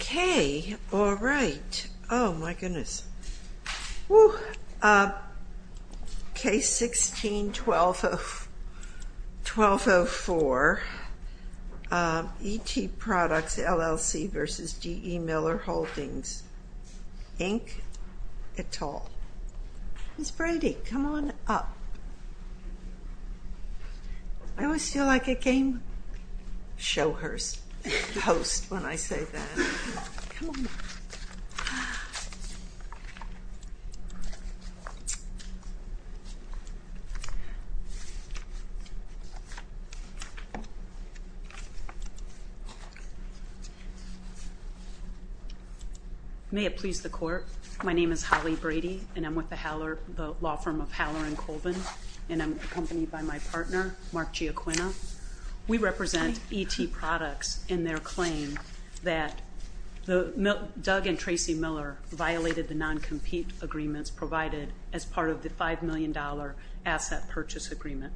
Okay, all right. Oh my goodness. Case 16-1204, E.T. Products, LLC v. D.E. Miller Holdings, Inc., Et al. Ms. Brady, come on up. I always feel like a game show host when I say that. May it please the court, my name is Holly Brady and I'm with the law firm of Haller & Colvin and I'm accompanied by my partner, Mark Giacquina. We represent E.T. Products in their claim that Doug and Tracy Miller violated the non-compete agreements provided as part of the $5 million asset purchase agreement.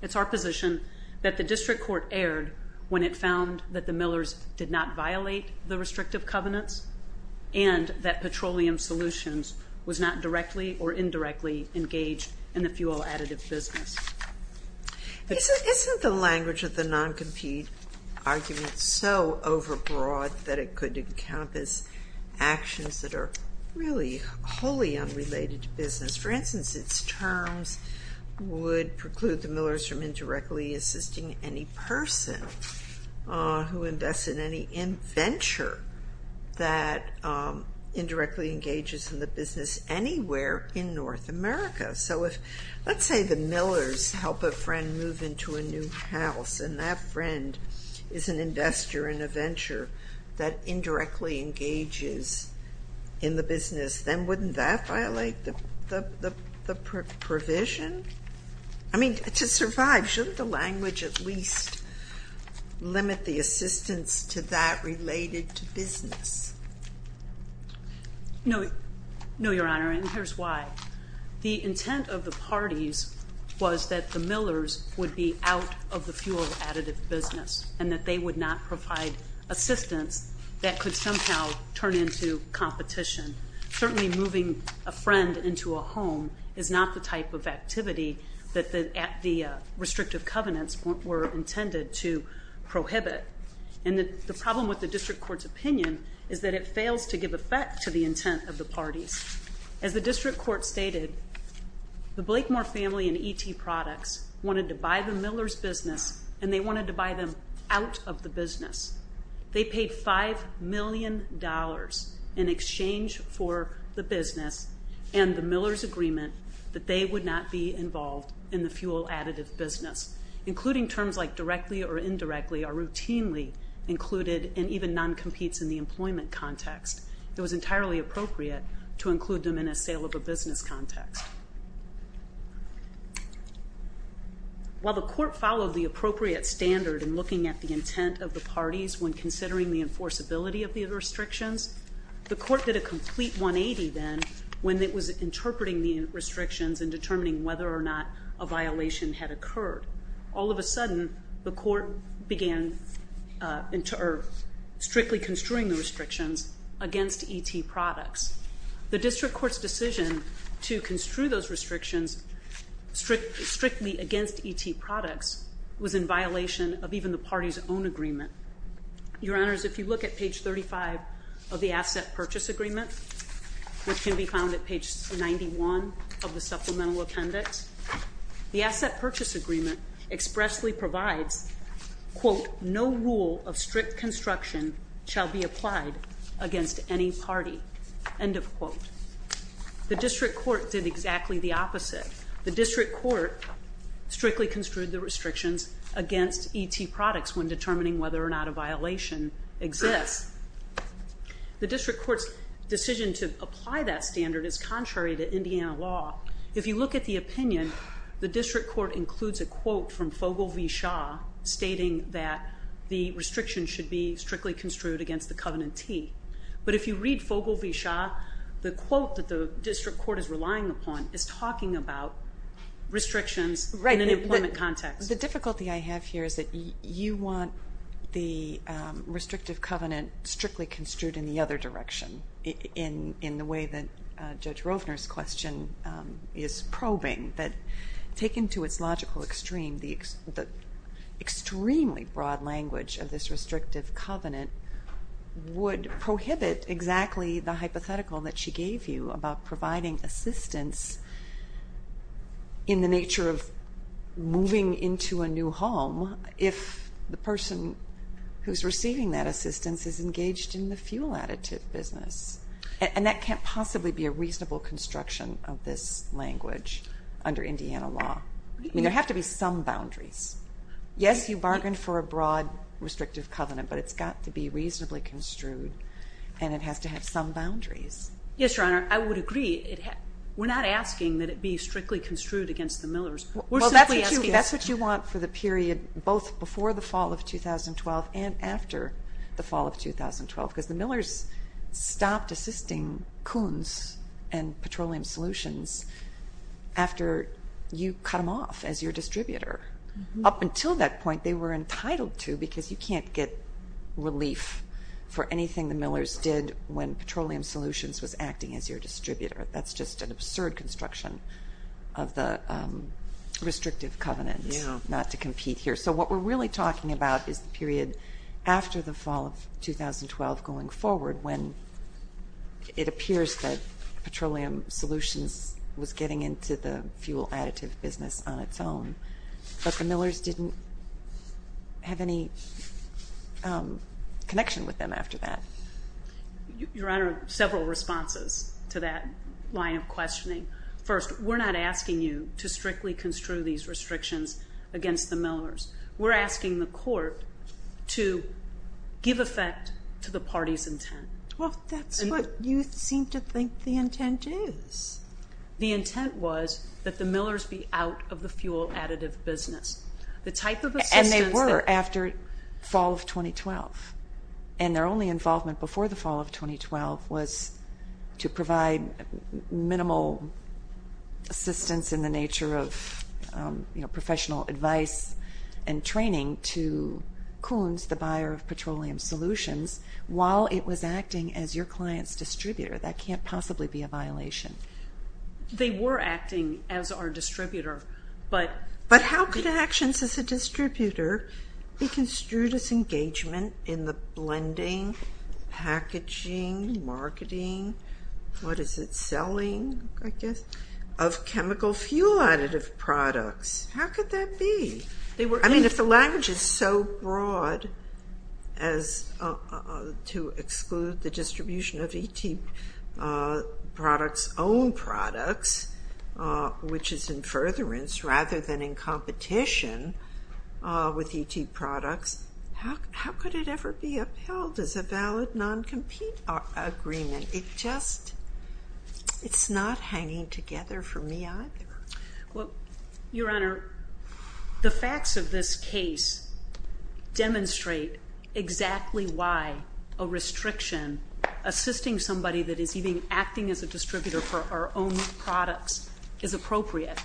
It's our position that the district court erred when it found that the Millers did not violate the restrictive covenants and that Petroleum Solutions was not directly or in the fuel additive business. Isn't the language of the non-compete argument so overbroad that it could encompass actions that are really wholly unrelated to business? For instance, its terms would preclude the Millers from indirectly assisting any person who invests in any venture that indirectly engages in the business anywhere in North America. So if, let's say the Millers help a friend move into a new house and that friend is an investor in a venture that indirectly engages in the business, then wouldn't that violate the provision? I mean, to survive, shouldn't the language at least limit the assistance to that related to business? No. No, Your Honor, and here's why. The intent of the parties was that the Millers would be out of the fuel additive business and that they would not provide assistance that could somehow turn into competition. Certainly moving a friend into a home is not the type of activity that the restrictive covenants were intended to prohibit, and the problem with the district court's opinion is that it fails to give effect to the intent of the parties. As the district court stated, the Blakemore family and ET Products wanted to buy the Millers' business and they wanted to buy them out of the business. They paid $5 million in exchange for the business and the Millers' agreement that they would not be involved in the fuel additive business, including terms like directly or indirectly are routinely included and even non-competes in the employment context. It was entirely appropriate to include them in a sale of a business context. While the court followed the appropriate standard in looking at the intent of the parties when considering the enforceability of the restrictions, the court did a complete 180 then when it was interpreting the restrictions and determining whether or not a violation had occurred. All of a sudden, the court began strictly construing the restrictions against ET Products. The district court's decision to construe those restrictions strictly against ET Products was in violation of even the party's own agreement. Your Honors, if you look at page 35 of the Asset Purchase Agreement, which can be found at page 91 of the Supplemental Appendix, the Asset Purchase Agreement expressly provides, quote, no rule of strict construction shall be applied against any party, end of quote. The district court did exactly the opposite. The district court strictly construed the restrictions against ET Products when determining whether or not a violation exists. The district court's decision to apply that standard is contrary to Indiana law. If you look at the opinion, the district court includes a quote from Fogel v. Shaw stating that the restrictions should be strictly construed against the Covenant T. But if you read Fogel v. Shaw, the quote that the district court is relying upon is talking about restrictive covenant strictly construed in the other direction, in the way that Judge Rovner's question is probing. But taken to its logical extreme, the extremely broad language of this restrictive covenant would prohibit exactly the hypothetical that she gave you about providing assistance in the nature of moving into a new home if the person who's receiving that assistance is engaged in the fuel additive business. And that can't possibly be a reasonable construction of this language under Indiana law. I mean, there have to be some boundaries. Yes, you bargained for a broad restrictive covenant, but it's got to be reasonably construed, and it has to have some boundaries. Yes, Your Honor, I would agree. We're not asking that it be strictly construed against the Millers. That's what you want for the period both before the fall of 2012 and after the fall of 2012, because the Millers stopped assisting Kuhns and Petroleum Solutions after you cut them off as your distributor. Up until that point, they were entitled to, because you can't get relief for anything the Millers did when Petroleum Solutions was acting as your distributor. That's just an absurd construction of the restrictive covenant, not to compete here. So what we're really talking about is the period after the fall of 2012 going forward when it appears that Petroleum Solutions was getting into the fuel additive business on millers didn't have any connection with them after that. Your Honor, several responses to that line of questioning. First, we're not asking you to strictly construe these restrictions against the Millers. We're asking the court to give effect to the party's intent. Well, that's what you seem to think the intent is. The intent was that the Millers be out of the fuel additive business. The type of assistance... And they were after fall of 2012. And their only involvement before the fall of 2012 was to provide minimal assistance in the nature of professional advice and training to Kuhns, the buyer of Petroleum Solutions, while it was acting as your client's distributor. That can't possibly be a violation. They were acting as our distributor, but... But how could actions as a distributor be construed as engagement in the blending, packaging, marketing, what is it, selling, I guess, of chemical fuel additive products? How could that be? I mean, if the language is so broad as to exclude the distribution of ET products' own products, which is in furtherance rather than in competition with ET products, how could it ever be upheld as a valid non-compete agreement? It just... It's not hanging together for me either. Well, Your Honor, the facts of this case demonstrate exactly why a restriction assisting somebody that is even acting as a distributor for our own products is appropriate.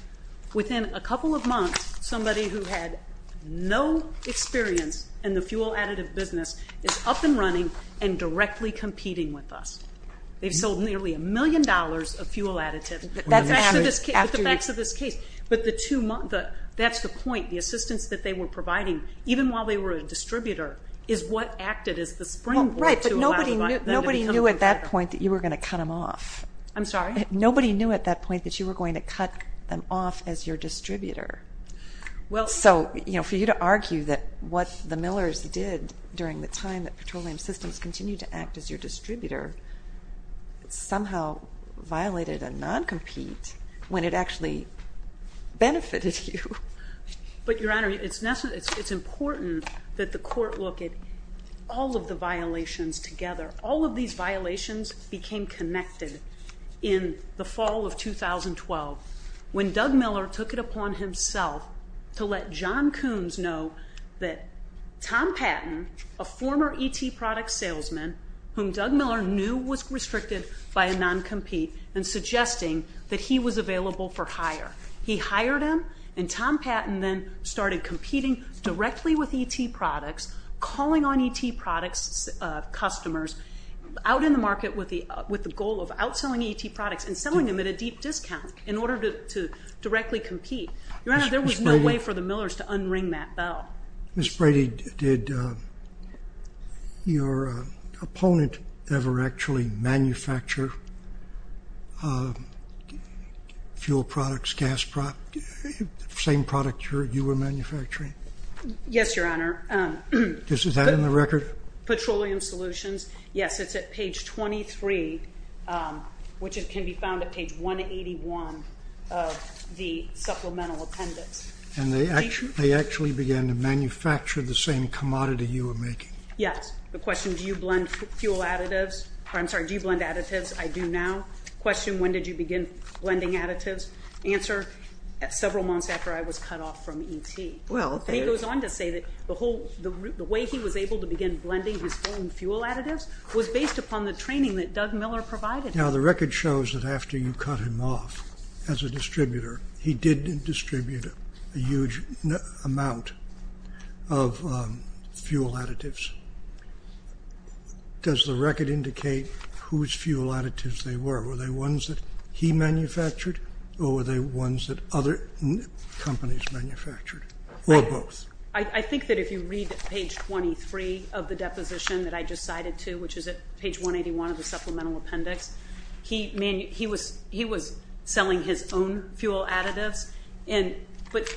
Within a couple of months, somebody who had no experience in the fuel additive business is up and running and directly competing with us. They've sold nearly a million dollars of fuel additive. That's after this case... With the facts of this case. But the that's the point. The assistance that they were providing, even while they were a distributor, is what acted as the springboard to allow them to become... Right, but nobody knew at that point that you were going to cut them off. I'm sorry? Nobody knew at that point that you were going to cut them off as your distributor. So for you to argue that what the Millers did during the time that petroleum systems continued to act as your distributor somehow violated a non-compete when it actually benefited you. But, Your Honor, it's important that the court look at all of the violations together. All of these violations became connected in the fall of 2012 when Doug Miller took it upon himself to let John Coons know that Tom Patton, a former ET product salesman, whom Doug Miller knew was restricted by a non-compete and suggesting that he was available for hire. He hired him and Tom Patton then started competing directly with ET products, calling on ET products customers out in the market with the goal of outselling ET products and selling them at a deep discount in order to directly compete. Your Honor, there was no way for the Millers to unring that bell. Ms. Brady, did your opponent ever actually manufacture fuel products, gas products, the same product you were manufacturing? Yes, Your Honor. Is that in the record? Petroleum solutions. Yes, it's at page 23, which can be found at page 181 of the supplemental appendix. And they actually began to manufacture the same commodity you were making? Yes. The question, do you blend fuel additives? I'm sorry, do you blend additives? I do now. Question, when did you begin blending additives? Answer, several months after I was cut off from ET. He goes on to say that the way he was able to begin blending his own fuel additives was based upon the training that Doug Miller provided him. Now, the record shows that after you cut him off as a distributor, he did distribute a huge amount of fuel additives. Does the record indicate whose fuel additives they were? Were they ones that he manufactured, or were they ones that other companies manufactured, or both? I think that if you read page 23 of the deposition that I just cited to, which is at page 181 of the supplemental appendix, he was selling his own fuel additives. But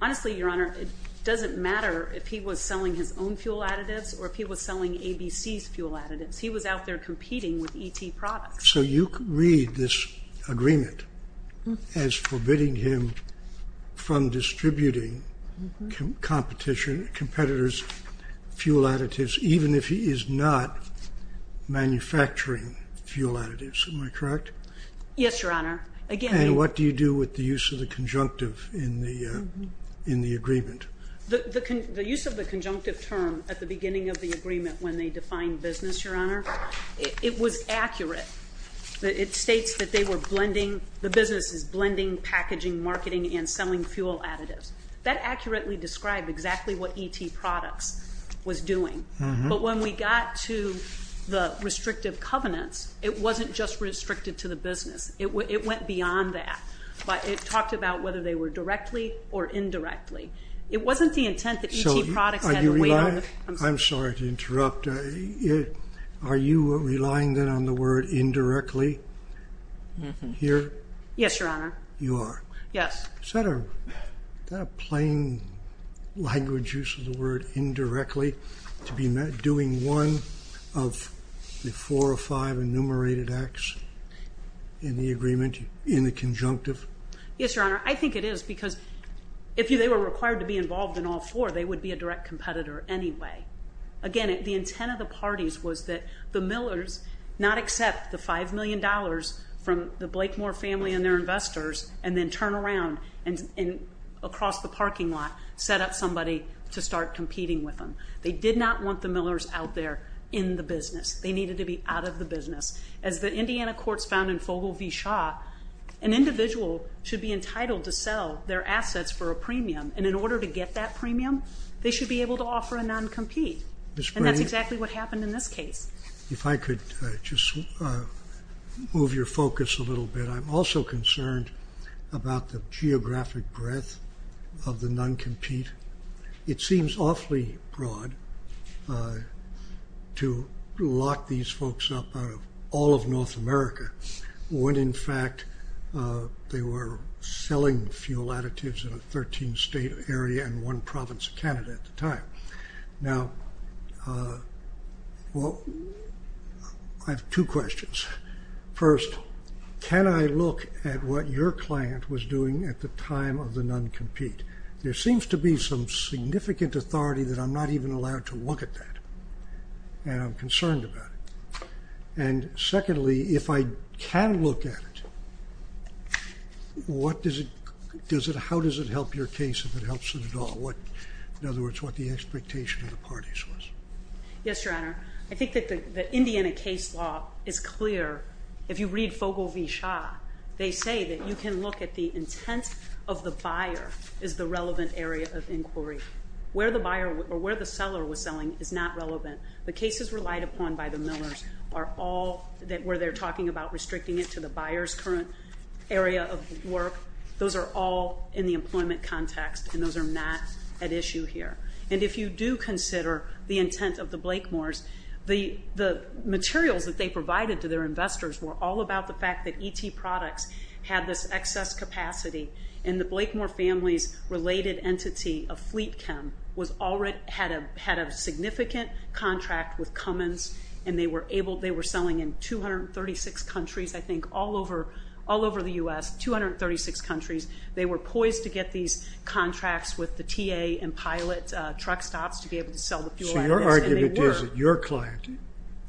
honestly, Your Honor, it doesn't matter if he was selling his own fuel additives or if he was selling ABC's fuel additives. He was out there competing with ET products. So you read this agreement as forbidding him from distributing competition, competitors' fuel additives, even if he is not manufacturing fuel additives. Am I correct? Yes, Your Honor. And what do you do with the use of the conjunctive in the agreement? The use of the conjunctive term at the beginning of the agreement when they defined business, Your Honor, it was accurate. It states that the business is blending packaging, marketing, and selling fuel additives. That accurately described exactly what ET products was doing. But when we got to the restrictive covenants, it wasn't just restricted to the business. It went beyond that. But it talked about whether they were directly or indirectly. It wasn't the intent that ET products had a way of... I'm sorry to interrupt. Are you relying then on the word indirectly here? Yes, Your Honor. You are? Yes. Is that a plain language use of the word indirectly to be doing one of the four or five enumerated acts in the agreement in the conjunctive? Yes, Your Honor. I think it is because if they were required to be involved in all four, they would be a direct competitor anyway. Again, the intent of the parties was that the Millers not accept the $5 million from the Blakemore family and their investors and then turn around and across the parking lot set up somebody to start competing with them. They did not want the Millers out there in the business. They needed to be out of the business. As the Indiana courts found in Fogle v. Shaw, an individual should be entitled to sell their assets for a premium. And in order to get that premium, they should be able to offer a non-compete. And that's exactly what If I could just move your focus a little bit, I'm also concerned about the geographic breadth of the non-compete. It seems awfully broad to lock these folks up out of all of North America when, in fact, they were selling fuel additives in a 13 state area and one province of Canada at the time. I have two questions. First, can I look at what your client was doing at the time of the non-compete? There seems to be some significant authority that I'm not even allowed to look at that. And I'm concerned about it. And secondly, if I can look at it, how does it help your case if it helps it at all? In other words, what the expectation of the parties was. Yes, Your Honor. I think that the Indiana case law is clear. If you read Fogle v. Shaw, they say that you can look at the intent of the buyer as the relevant area of inquiry. Where the buyer or where the seller was selling is not relevant. The cases relied upon by the Millers are all where they're talking about restricting it to the buyer's current area of work. Those are all in the employment context. And those are not at issue here. And if you do consider the intent of the Blakemores, the materials that they provided to their investors were all about the fact that ET products had this excess capacity. And the Blakemore family's related entity of Fleet Chem had a significant contract with Cummins, and they were selling in 236 countries, I think, all over the U.S., 236 countries. They were poised to get these contracts with the TA and pilot truck stops to be able to sell the fuel. So your argument is that your client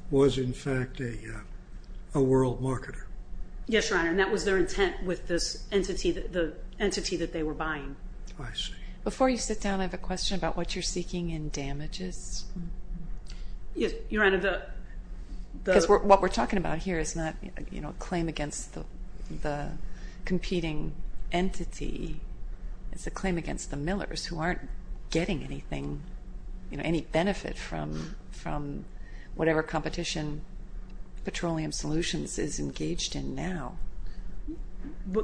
was, in fact, a world marketer? Yes, Your Honor. And that was their intent with this entity that they were buying. I see. Before you sit down, I have a question about what you're seeking in damages. Yes, Your Honor. Because what we're talking about here is not a claim against the competing entity. It's a claim against the Millers who aren't getting anything, any benefit from whatever competition Petroleum Solutions is engaged in now.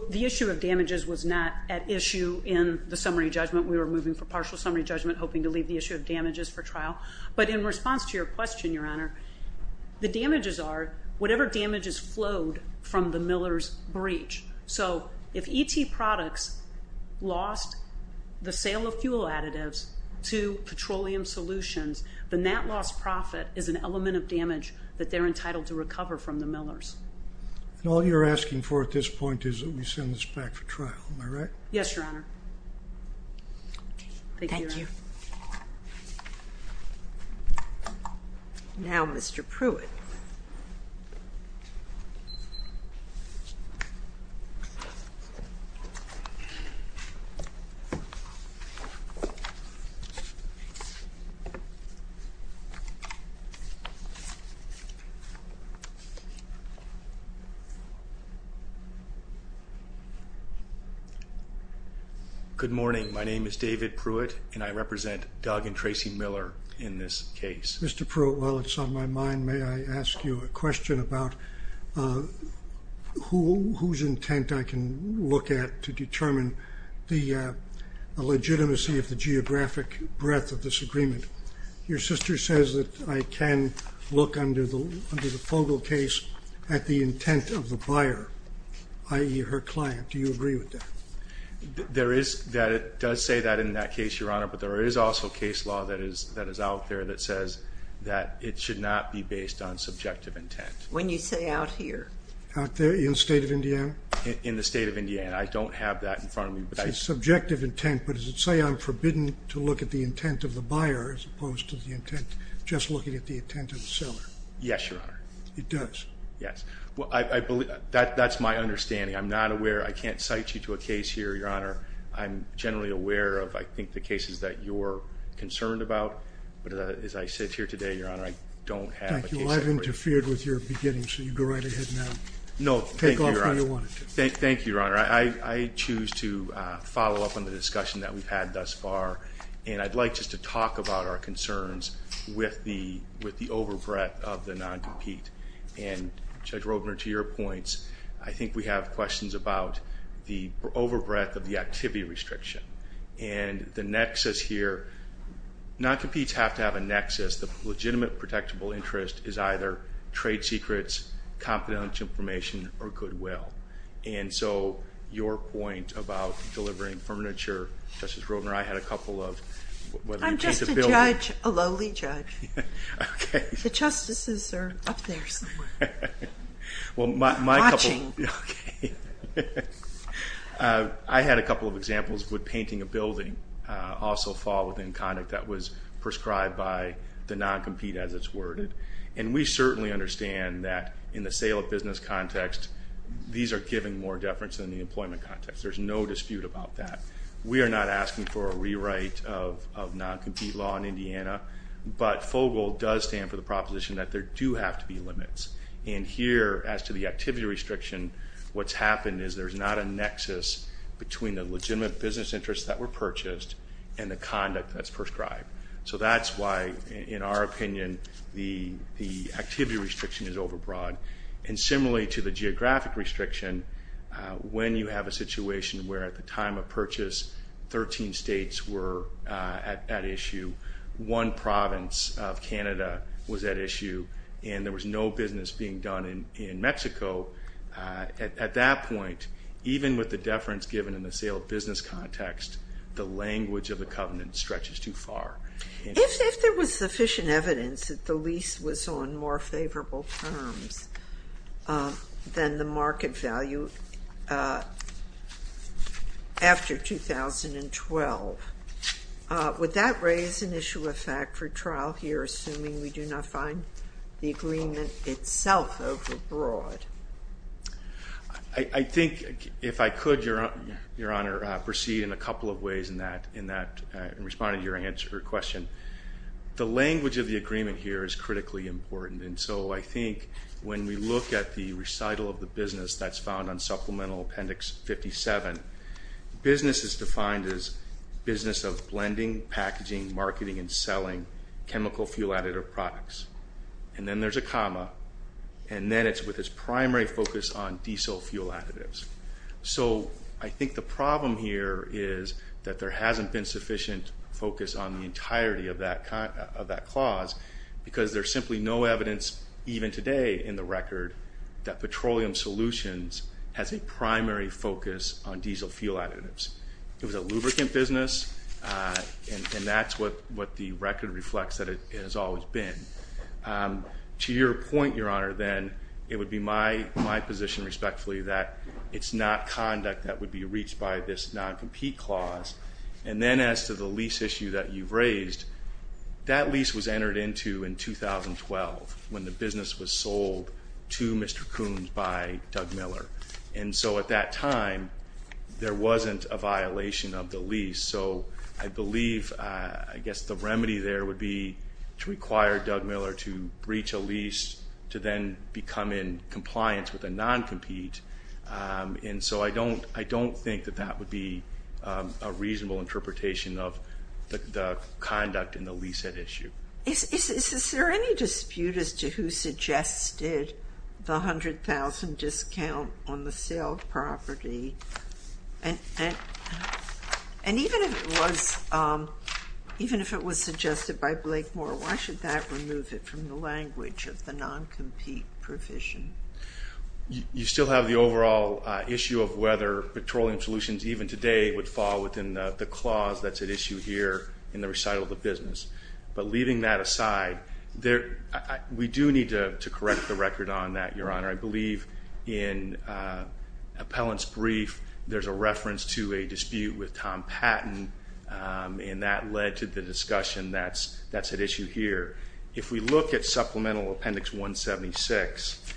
The issue of damages was not at issue in the summary judgment. We were moving for partial summary judgment, hoping to leave the issue of damages for trial. But in response to your question, Your Honor, the damages are whatever damages flowed from the Millers breach. So if ET products lost the sale of fuel additives to Petroleum Solutions, then that lost profit is an element of damage that they're entitled to recover from the Millers. And all you're asking for at this point is that we send this back for review. Thank you. Now, Mr. Pruitt. Good morning. My name is David Pruitt, and I represent Doug and Tracy Miller in this case. Mr. Pruitt, while it's on my mind, may I ask you a question about whose intent I can look at to determine the legitimacy of the geographic breadth of this agreement? Your sister says that I can look under the Fogle case at the intent of the buyer, i.e., her client. Do you agree with that? There is that. It does say that in that case, Your Honor. But there is also case law that is out there that says that it should not be based on subjective intent. When you say out here? Out there in the state of Indiana? In the state of Indiana. I don't have that in front of me. It's subjective intent, but does it say I'm forbidden to look at the intent of the buyer as opposed to the intent, just looking at the intent of the seller? Yes, Your Honor. It does? Yes. That's my understanding. I'm not aware. I can't cite you to a case here, Your Honor. I'm generally aware of, I think, the cases that you're concerned about. But as I sit here today, Your Honor, I don't have a case in front of me. Thank you. Well, I've interfered with your beginning, so you go right ahead now. No, thank you, Your Honor. Take off where you wanted to. Thank you, Your Honor. I choose to follow up on the discussion that we've had thus far, and I'd like just to talk about our concerns with the overbreadth of the non-compete. And Judge Rodner, to your points, I think we have questions about the overbreadth of the activity restriction. And the nexus here, non-competes have to have a nexus. The legitimate protectable interest is either trade secrets, confidential information, or goodwill. And so, your point about delivering furniture, Justice Rodner, I had a couple of... I'm just a judge, a lowly judge. Okay. The justices are up there somewhere. Watching. Okay. I had a couple of examples with painting a building also fall within conduct that was prescribed by the non-compete as it's worded. And we certainly understand that in the sale of business context, these are giving more deference than the employment context. There's no dispute about that. We are not asking for a rewrite of non-compete law in Indiana, but FOGL does stand for the proposition that there do have to be limits. And here, as to the activity restriction, what's happened is there's not a nexus between the legitimate business interests that were purchased and the conduct that's prescribed. So that's why, in our opinion, the activity restriction is overbroad. And similarly to the geographic restriction, when you have a situation where at the time of purchase, 13 states were at issue, one province of Canada was at issue, and there was no business being done in Mexico, at that point, even with the deference given in the sale of business context, the language of the covenant stretches too far. If there was sufficient evidence that the lease was on more favorable terms, than the market value, after 2012, would that raise an issue of fact for trial here, assuming we do not find the agreement itself overbroad? I think, if I could, Your Honor, proceed in a couple of ways in responding to your question. The language of the agreement here is critically important. And so I think when we look at the recital of the business that's found on Supplemental Appendix 57, business is defined as business of blending, packaging, marketing, and selling chemical fuel additive products. And then there's a comma, and then it's with its primary focus on diesel fuel additives. So I think the problem here is that there hasn't been sufficient focus on the entirety of that clause, because there's simply no evidence, even today, in the record, that petroleum solutions has a primary focus on diesel fuel additives. It was a lubricant business, and that's what the record reflects that it has always been. To your point, Your Honor, then, it would be my position, respectfully, that it's not conduct that would be reached by this non-compete clause. And then as to the lease issue that you've raised, that lease was entered into in 2012 when the business was sold to Mr. Coombs by Doug Miller. And so at that time, there wasn't a violation of the lease. So I believe, I guess the remedy there would be to require Doug Miller to breach a lease to then become in compliance with a non-compete. And so I don't think that that would be a reasonable interpretation of the conduct in the lease that issue. Is there any dispute as to who suggested the $100,000 discount on the sale of property? And even if it was suggested by Blake Moore, why should that remove it from the language of the non-compete provision? You still have the overall issue of whether petroleum solutions, even today, would fall within the clause that's at issue here in the recital of the business. But leaving that aside, we do need to correct the record on that, Your Honor. I believe in Appellant's brief, there's a reference to a dispute with Tom Patton, and that led to the discussion that's at issue here. If we look at Supplemental Appendix 176,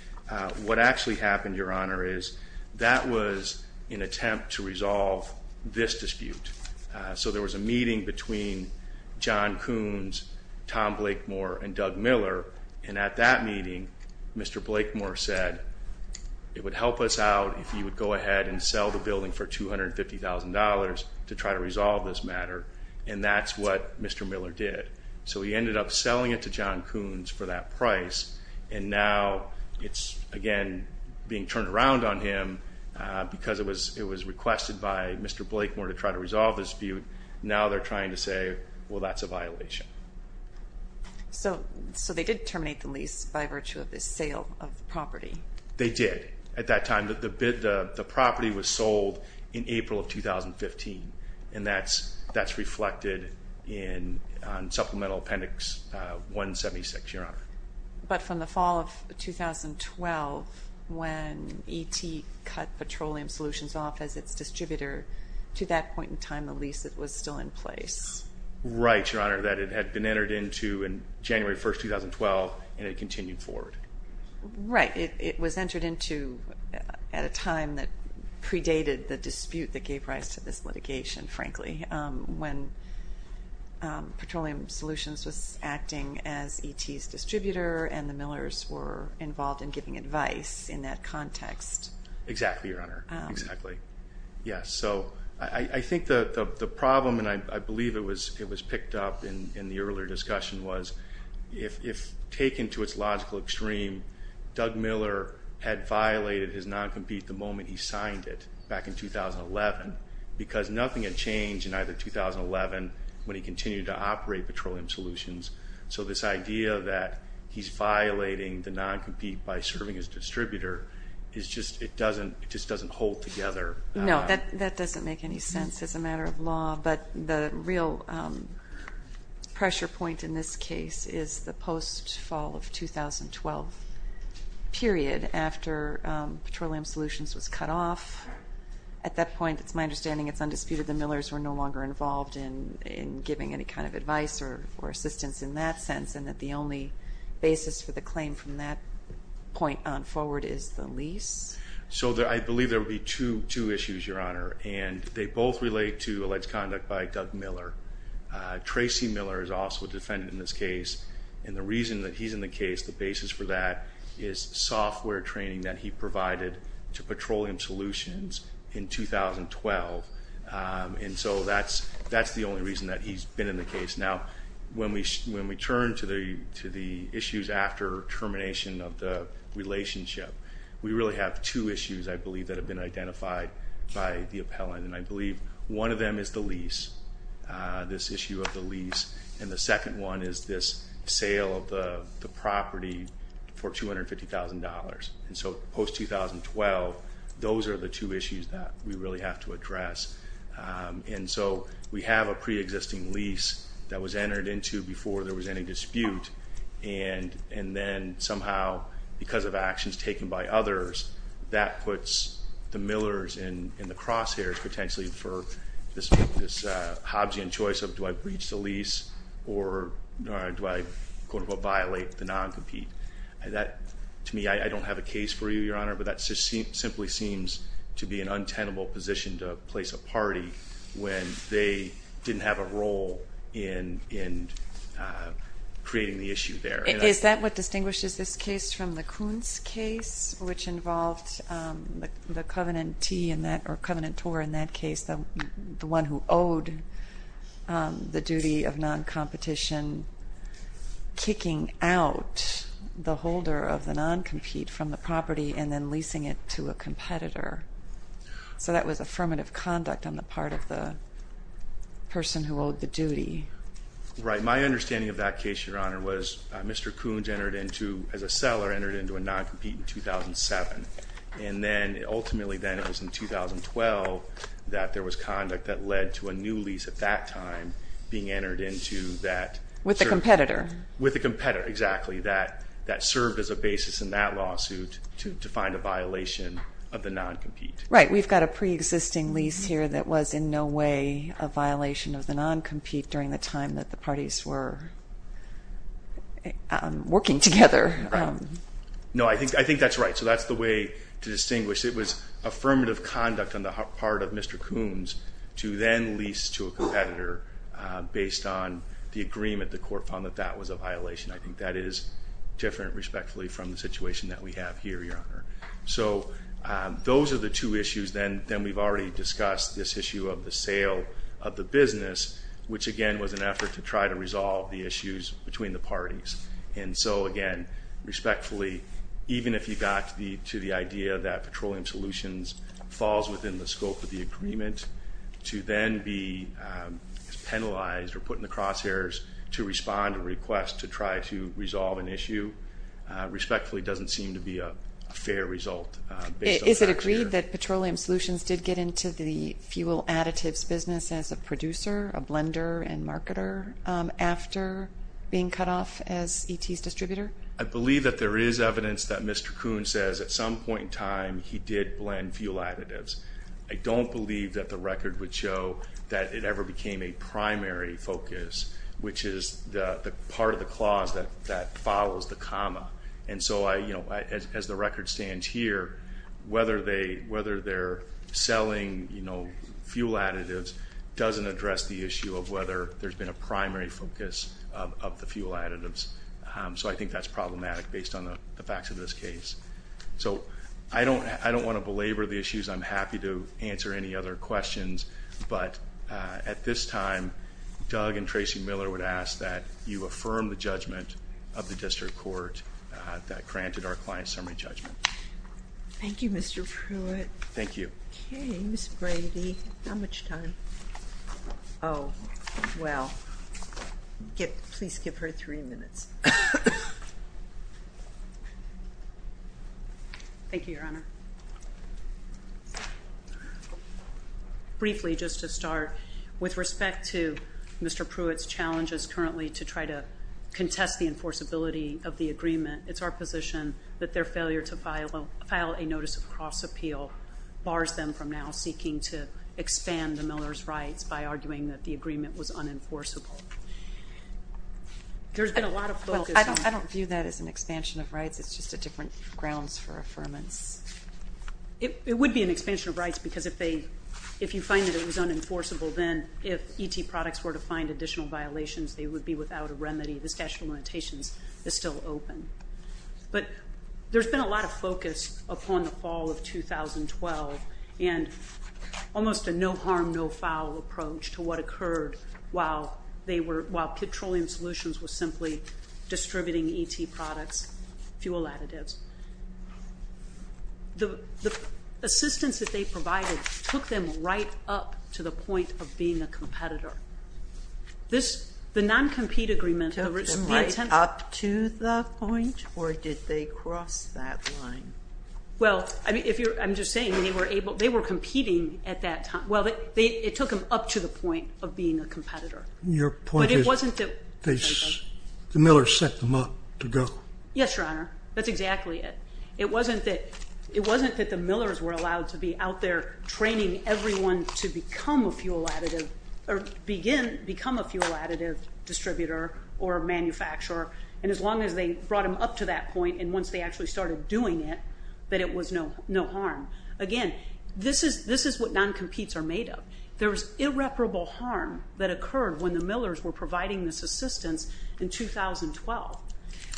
what actually happened, Your Honor, is that was an attempt to resolve this dispute. So there was a meeting between John Coons, Tom Blake Moore, and Doug Miller. And at that meeting, Mr. Blake Moore said, it would help us out if you would go ahead and sell the building for $250,000 to try to resolve this matter. And that's what Mr. Miller did. So he ended up selling it to John Coons for that price. And now it's, again, being turned around on him because it was requested by Mr. Blake Moore to try to resolve the dispute. Now they're trying to say, well, that's a violation. So they did terminate the lease by virtue of this sale of the property. They did. At that time, the property was sold in April of 2015. And that's reflected on Supplemental Appendix 176, Your Honor. But from the fall of 2012, when ET cut Petroleum Solutions off as its distributor, to that point in time, the lease was still in place. Right, Your Honor, that it had been entered into in January 1, 2012, and it continued forward. Right. It was entered into at a time that predated the dispute that gave rise to this litigation, frankly, when Petroleum Solutions was acting as ET's distributor, and the Millers were involved in giving advice in that context. Exactly, Your Honor. Exactly. Yes. So I think the problem, and I believe it was picked up in the earlier discussion, was if taken to its logical extreme, Doug Miller had violated his non-compete the moment he signed it back in 2011, because nothing had changed in either 2011 when he continued to operate Petroleum Solutions. So this idea that he's violating the non-compete by serving his distributor, it just doesn't hold together. No, that doesn't make any sense as a matter of law. But the real pressure point in this case is the post-fall of 2012 period after Petroleum Solutions was cut off. At that point, it's my understanding it's undisputed the Millers were no longer involved in giving any kind of advice or assistance in that sense, and that the only basis for the claim from that point on forward is the lease. So I believe there would be two issues, Your Honor, and they both relate to alleged conduct by Doug Miller. Tracy Miller is also a defendant in this case, and the reason that he's in the case, the basis for that is software training that he provided to Petroleum Solutions in 2012. And so that's the only reason that he's been in the case. Now, when we turn to the issues after termination of the relationship, we really have two issues, I believe, that have been identified by the appellant. And I believe one of them is the lease, this issue of the lease. And the second one is this sale of the property for $250,000. And so post-2012, those are the two issues that we really have to address. And so we have a pre-existing lease that was entered into before there was any dispute. And then somehow, because of actions taken by others, that puts the Millers and the Crosshairs potentially for this Hobbsian choice of, do I breach the lease or do I, quote, unquote, violate the non-compete? That, to me, I don't have a case for you, Your Honor, but that simply seems to be an untenable position to place a party when they didn't have a role in creating the issue there. Is that what distinguishes this case from the Coons case, which involved the covenantee in that, or covenantor in that case, the one who owed the duty of non-competition kicking out the holder of the non-compete from the property and then leasing it to a competitor? So that was affirmative conduct on the part of the person who owed the duty. Right. My understanding of that case, Your Honor, was Mr. Coons entered into, as a seller, entered into a non-compete in 2007. And then, ultimately then, it was in 2012 that there was conduct that led to a new lease at that time being entered into that. With a competitor. With a competitor, exactly. That served as a basis in that lawsuit to find a violation of the non-compete. Right. We've got a pre-existing lease here that was in no way a violation of the non-compete during the time that the parties were working together. No, I think that's right. So that's the way to distinguish. It was affirmative conduct on the part of Mr. Coons to then lease to a competitor based on the agreement the court found that that was a violation. I think that is different, respectfully, from the situation that we have here, Your Honor. So those are the two issues. Then we've already discussed this issue of the sale of the business, which, again, was an effort to try to resolve the issues between the parties. And so, again, respectfully, even if you got to the idea that Petroleum Solutions falls within the scope of the agreement, to then be penalized or put in the crosshairs to respond and request to try to resolve an issue, respectfully, doesn't seem to be a fair result. Is it agreed that Petroleum Solutions did get into the fuel additives business as a producer, a blender, and marketer after being cut off as ET's distributor? I believe that there is evidence that Mr. Coons says at some point in time he did blend fuel additives. I don't believe that the record would show that it ever became a primary focus, which is the part of the clause that follows the comma. And so, as the record stands here, whether they're selling fuel additives doesn't address the issue of whether there's been a primary focus of the fuel additives. So I think that's problematic based on the facts of this case. So I don't want to belabor the issues. I'm happy to answer any other questions. But at this time, Doug and Tracy Miller would ask that you affirm the judgment of the district court that granted our client summary judgment. Thank you, Mr. Pruitt. Thank you. Okay, Ms. Brady, how much time? Oh, well, please give her three minutes. Thank you, Your Honor. Briefly, just to start, with respect to Mr. Pruitt's challenges currently to try to contest the enforceability of the agreement, it's our position that their failure to file a notice of cross-appeal bars them from now seeking to expand the Miller's rights by arguing that the agreement was unenforceable. There's been a lot of focus on that. I don't view that as an expansion of rights. It's just a different grounds for affirmance. It would be an expansion of rights because if you find that it was unenforceable, then if ET products were to find additional violations, they would be without a remedy. The statute of limitations is still open. But there's been a lot of focus upon the fall of 2012 and almost a no harm, no foul approach to what occurred while Petroleum Solutions was simply distributing ET products. Fuel additives. The assistance that they provided took them right up to the point of being a competitor. This, the non-compete agreement. Took them right up to the point or did they cross that line? Well, I mean, if you're, I'm just saying they were able, they were competing at that time. Well, it took them up to the point of being a competitor. Your point is, the Millers set them up to go. Yes, Your Honor. That's exactly it. It wasn't that the Millers were allowed to be out there training everyone to become a fuel additive or begin, become a fuel additive distributor or manufacturer. And as long as they brought them up to that point and once they actually started doing it, that it was no harm. Again, this is what non-competes are made of. There was irreparable harm that occurred when the Millers were providing this assistance in 2012.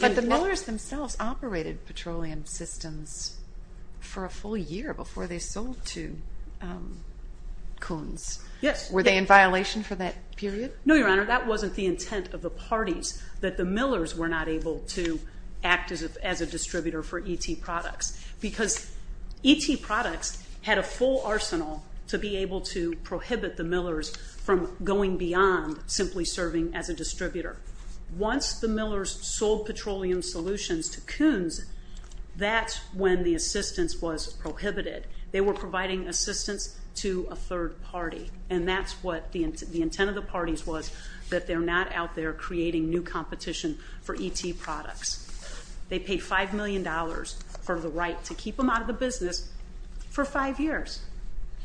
But the Millers themselves operated petroleum systems for a full year before they sold to Koons. Yes. Were they in violation for that period? No, Your Honor. That wasn't the intent of the parties that the Millers were not able to act as a distributor for ET products because ET products had a full arsenal to be able to prohibit the Millers from going beyond simply serving as a distributor. Once the Millers sold petroleum solutions to Koons, that's when the assistance was prohibited. They were providing assistance to a third party. And that's what the intent of the parties was, that they're not out there creating new competition for ET products. They paid $5 million for the right to keep them out of the business for five years.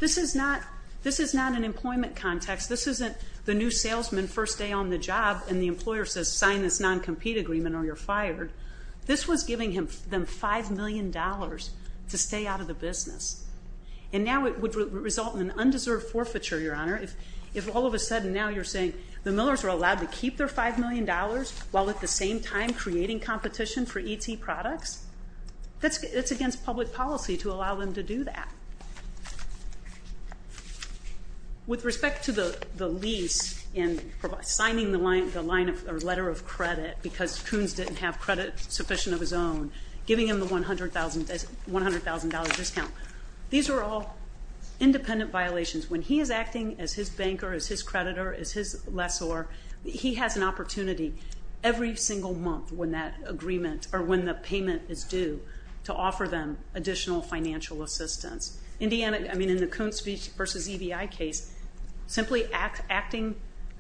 This is not, this is not an employment context. This isn't the new salesman first day on the job and the employer says sign this non-compete agreement or you're fired. This was giving them $5 million to stay out of the business. And now it would result in undeserved forfeiture, Your Honor, if all of a sudden now you're saying the Millers are allowed to keep their $5 million while at the same time creating competition for ET products. It's against public policy to allow them to do that. With respect to the lease and signing the letter of credit, because Koons didn't have credit sufficient of his own, giving him the $100,000 discount, these are all independent violations. When he is acting as his banker, as his creditor, as his lessor, he has an opportunity every single month when that agreement, or when the payment is due, to offer them additional financial assistance. Indiana, I mean in the Koons v. EBI case, simply acting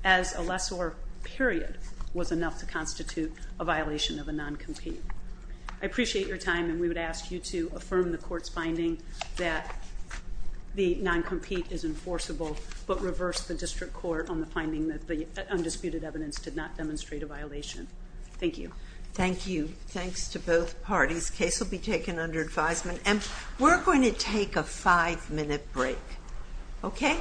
as a lessor, period, was enough to constitute a violation of a non-compete. I appreciate your time and we would ask you to affirm the court's finding that the non-compete is enforceable, but reverse the district court on the finding that the undisputed evidence did not demonstrate a violation. Thank you. Thank you. Thanks to both parties. This case will be taken under advisement and we're going to take a five-minute break, okay?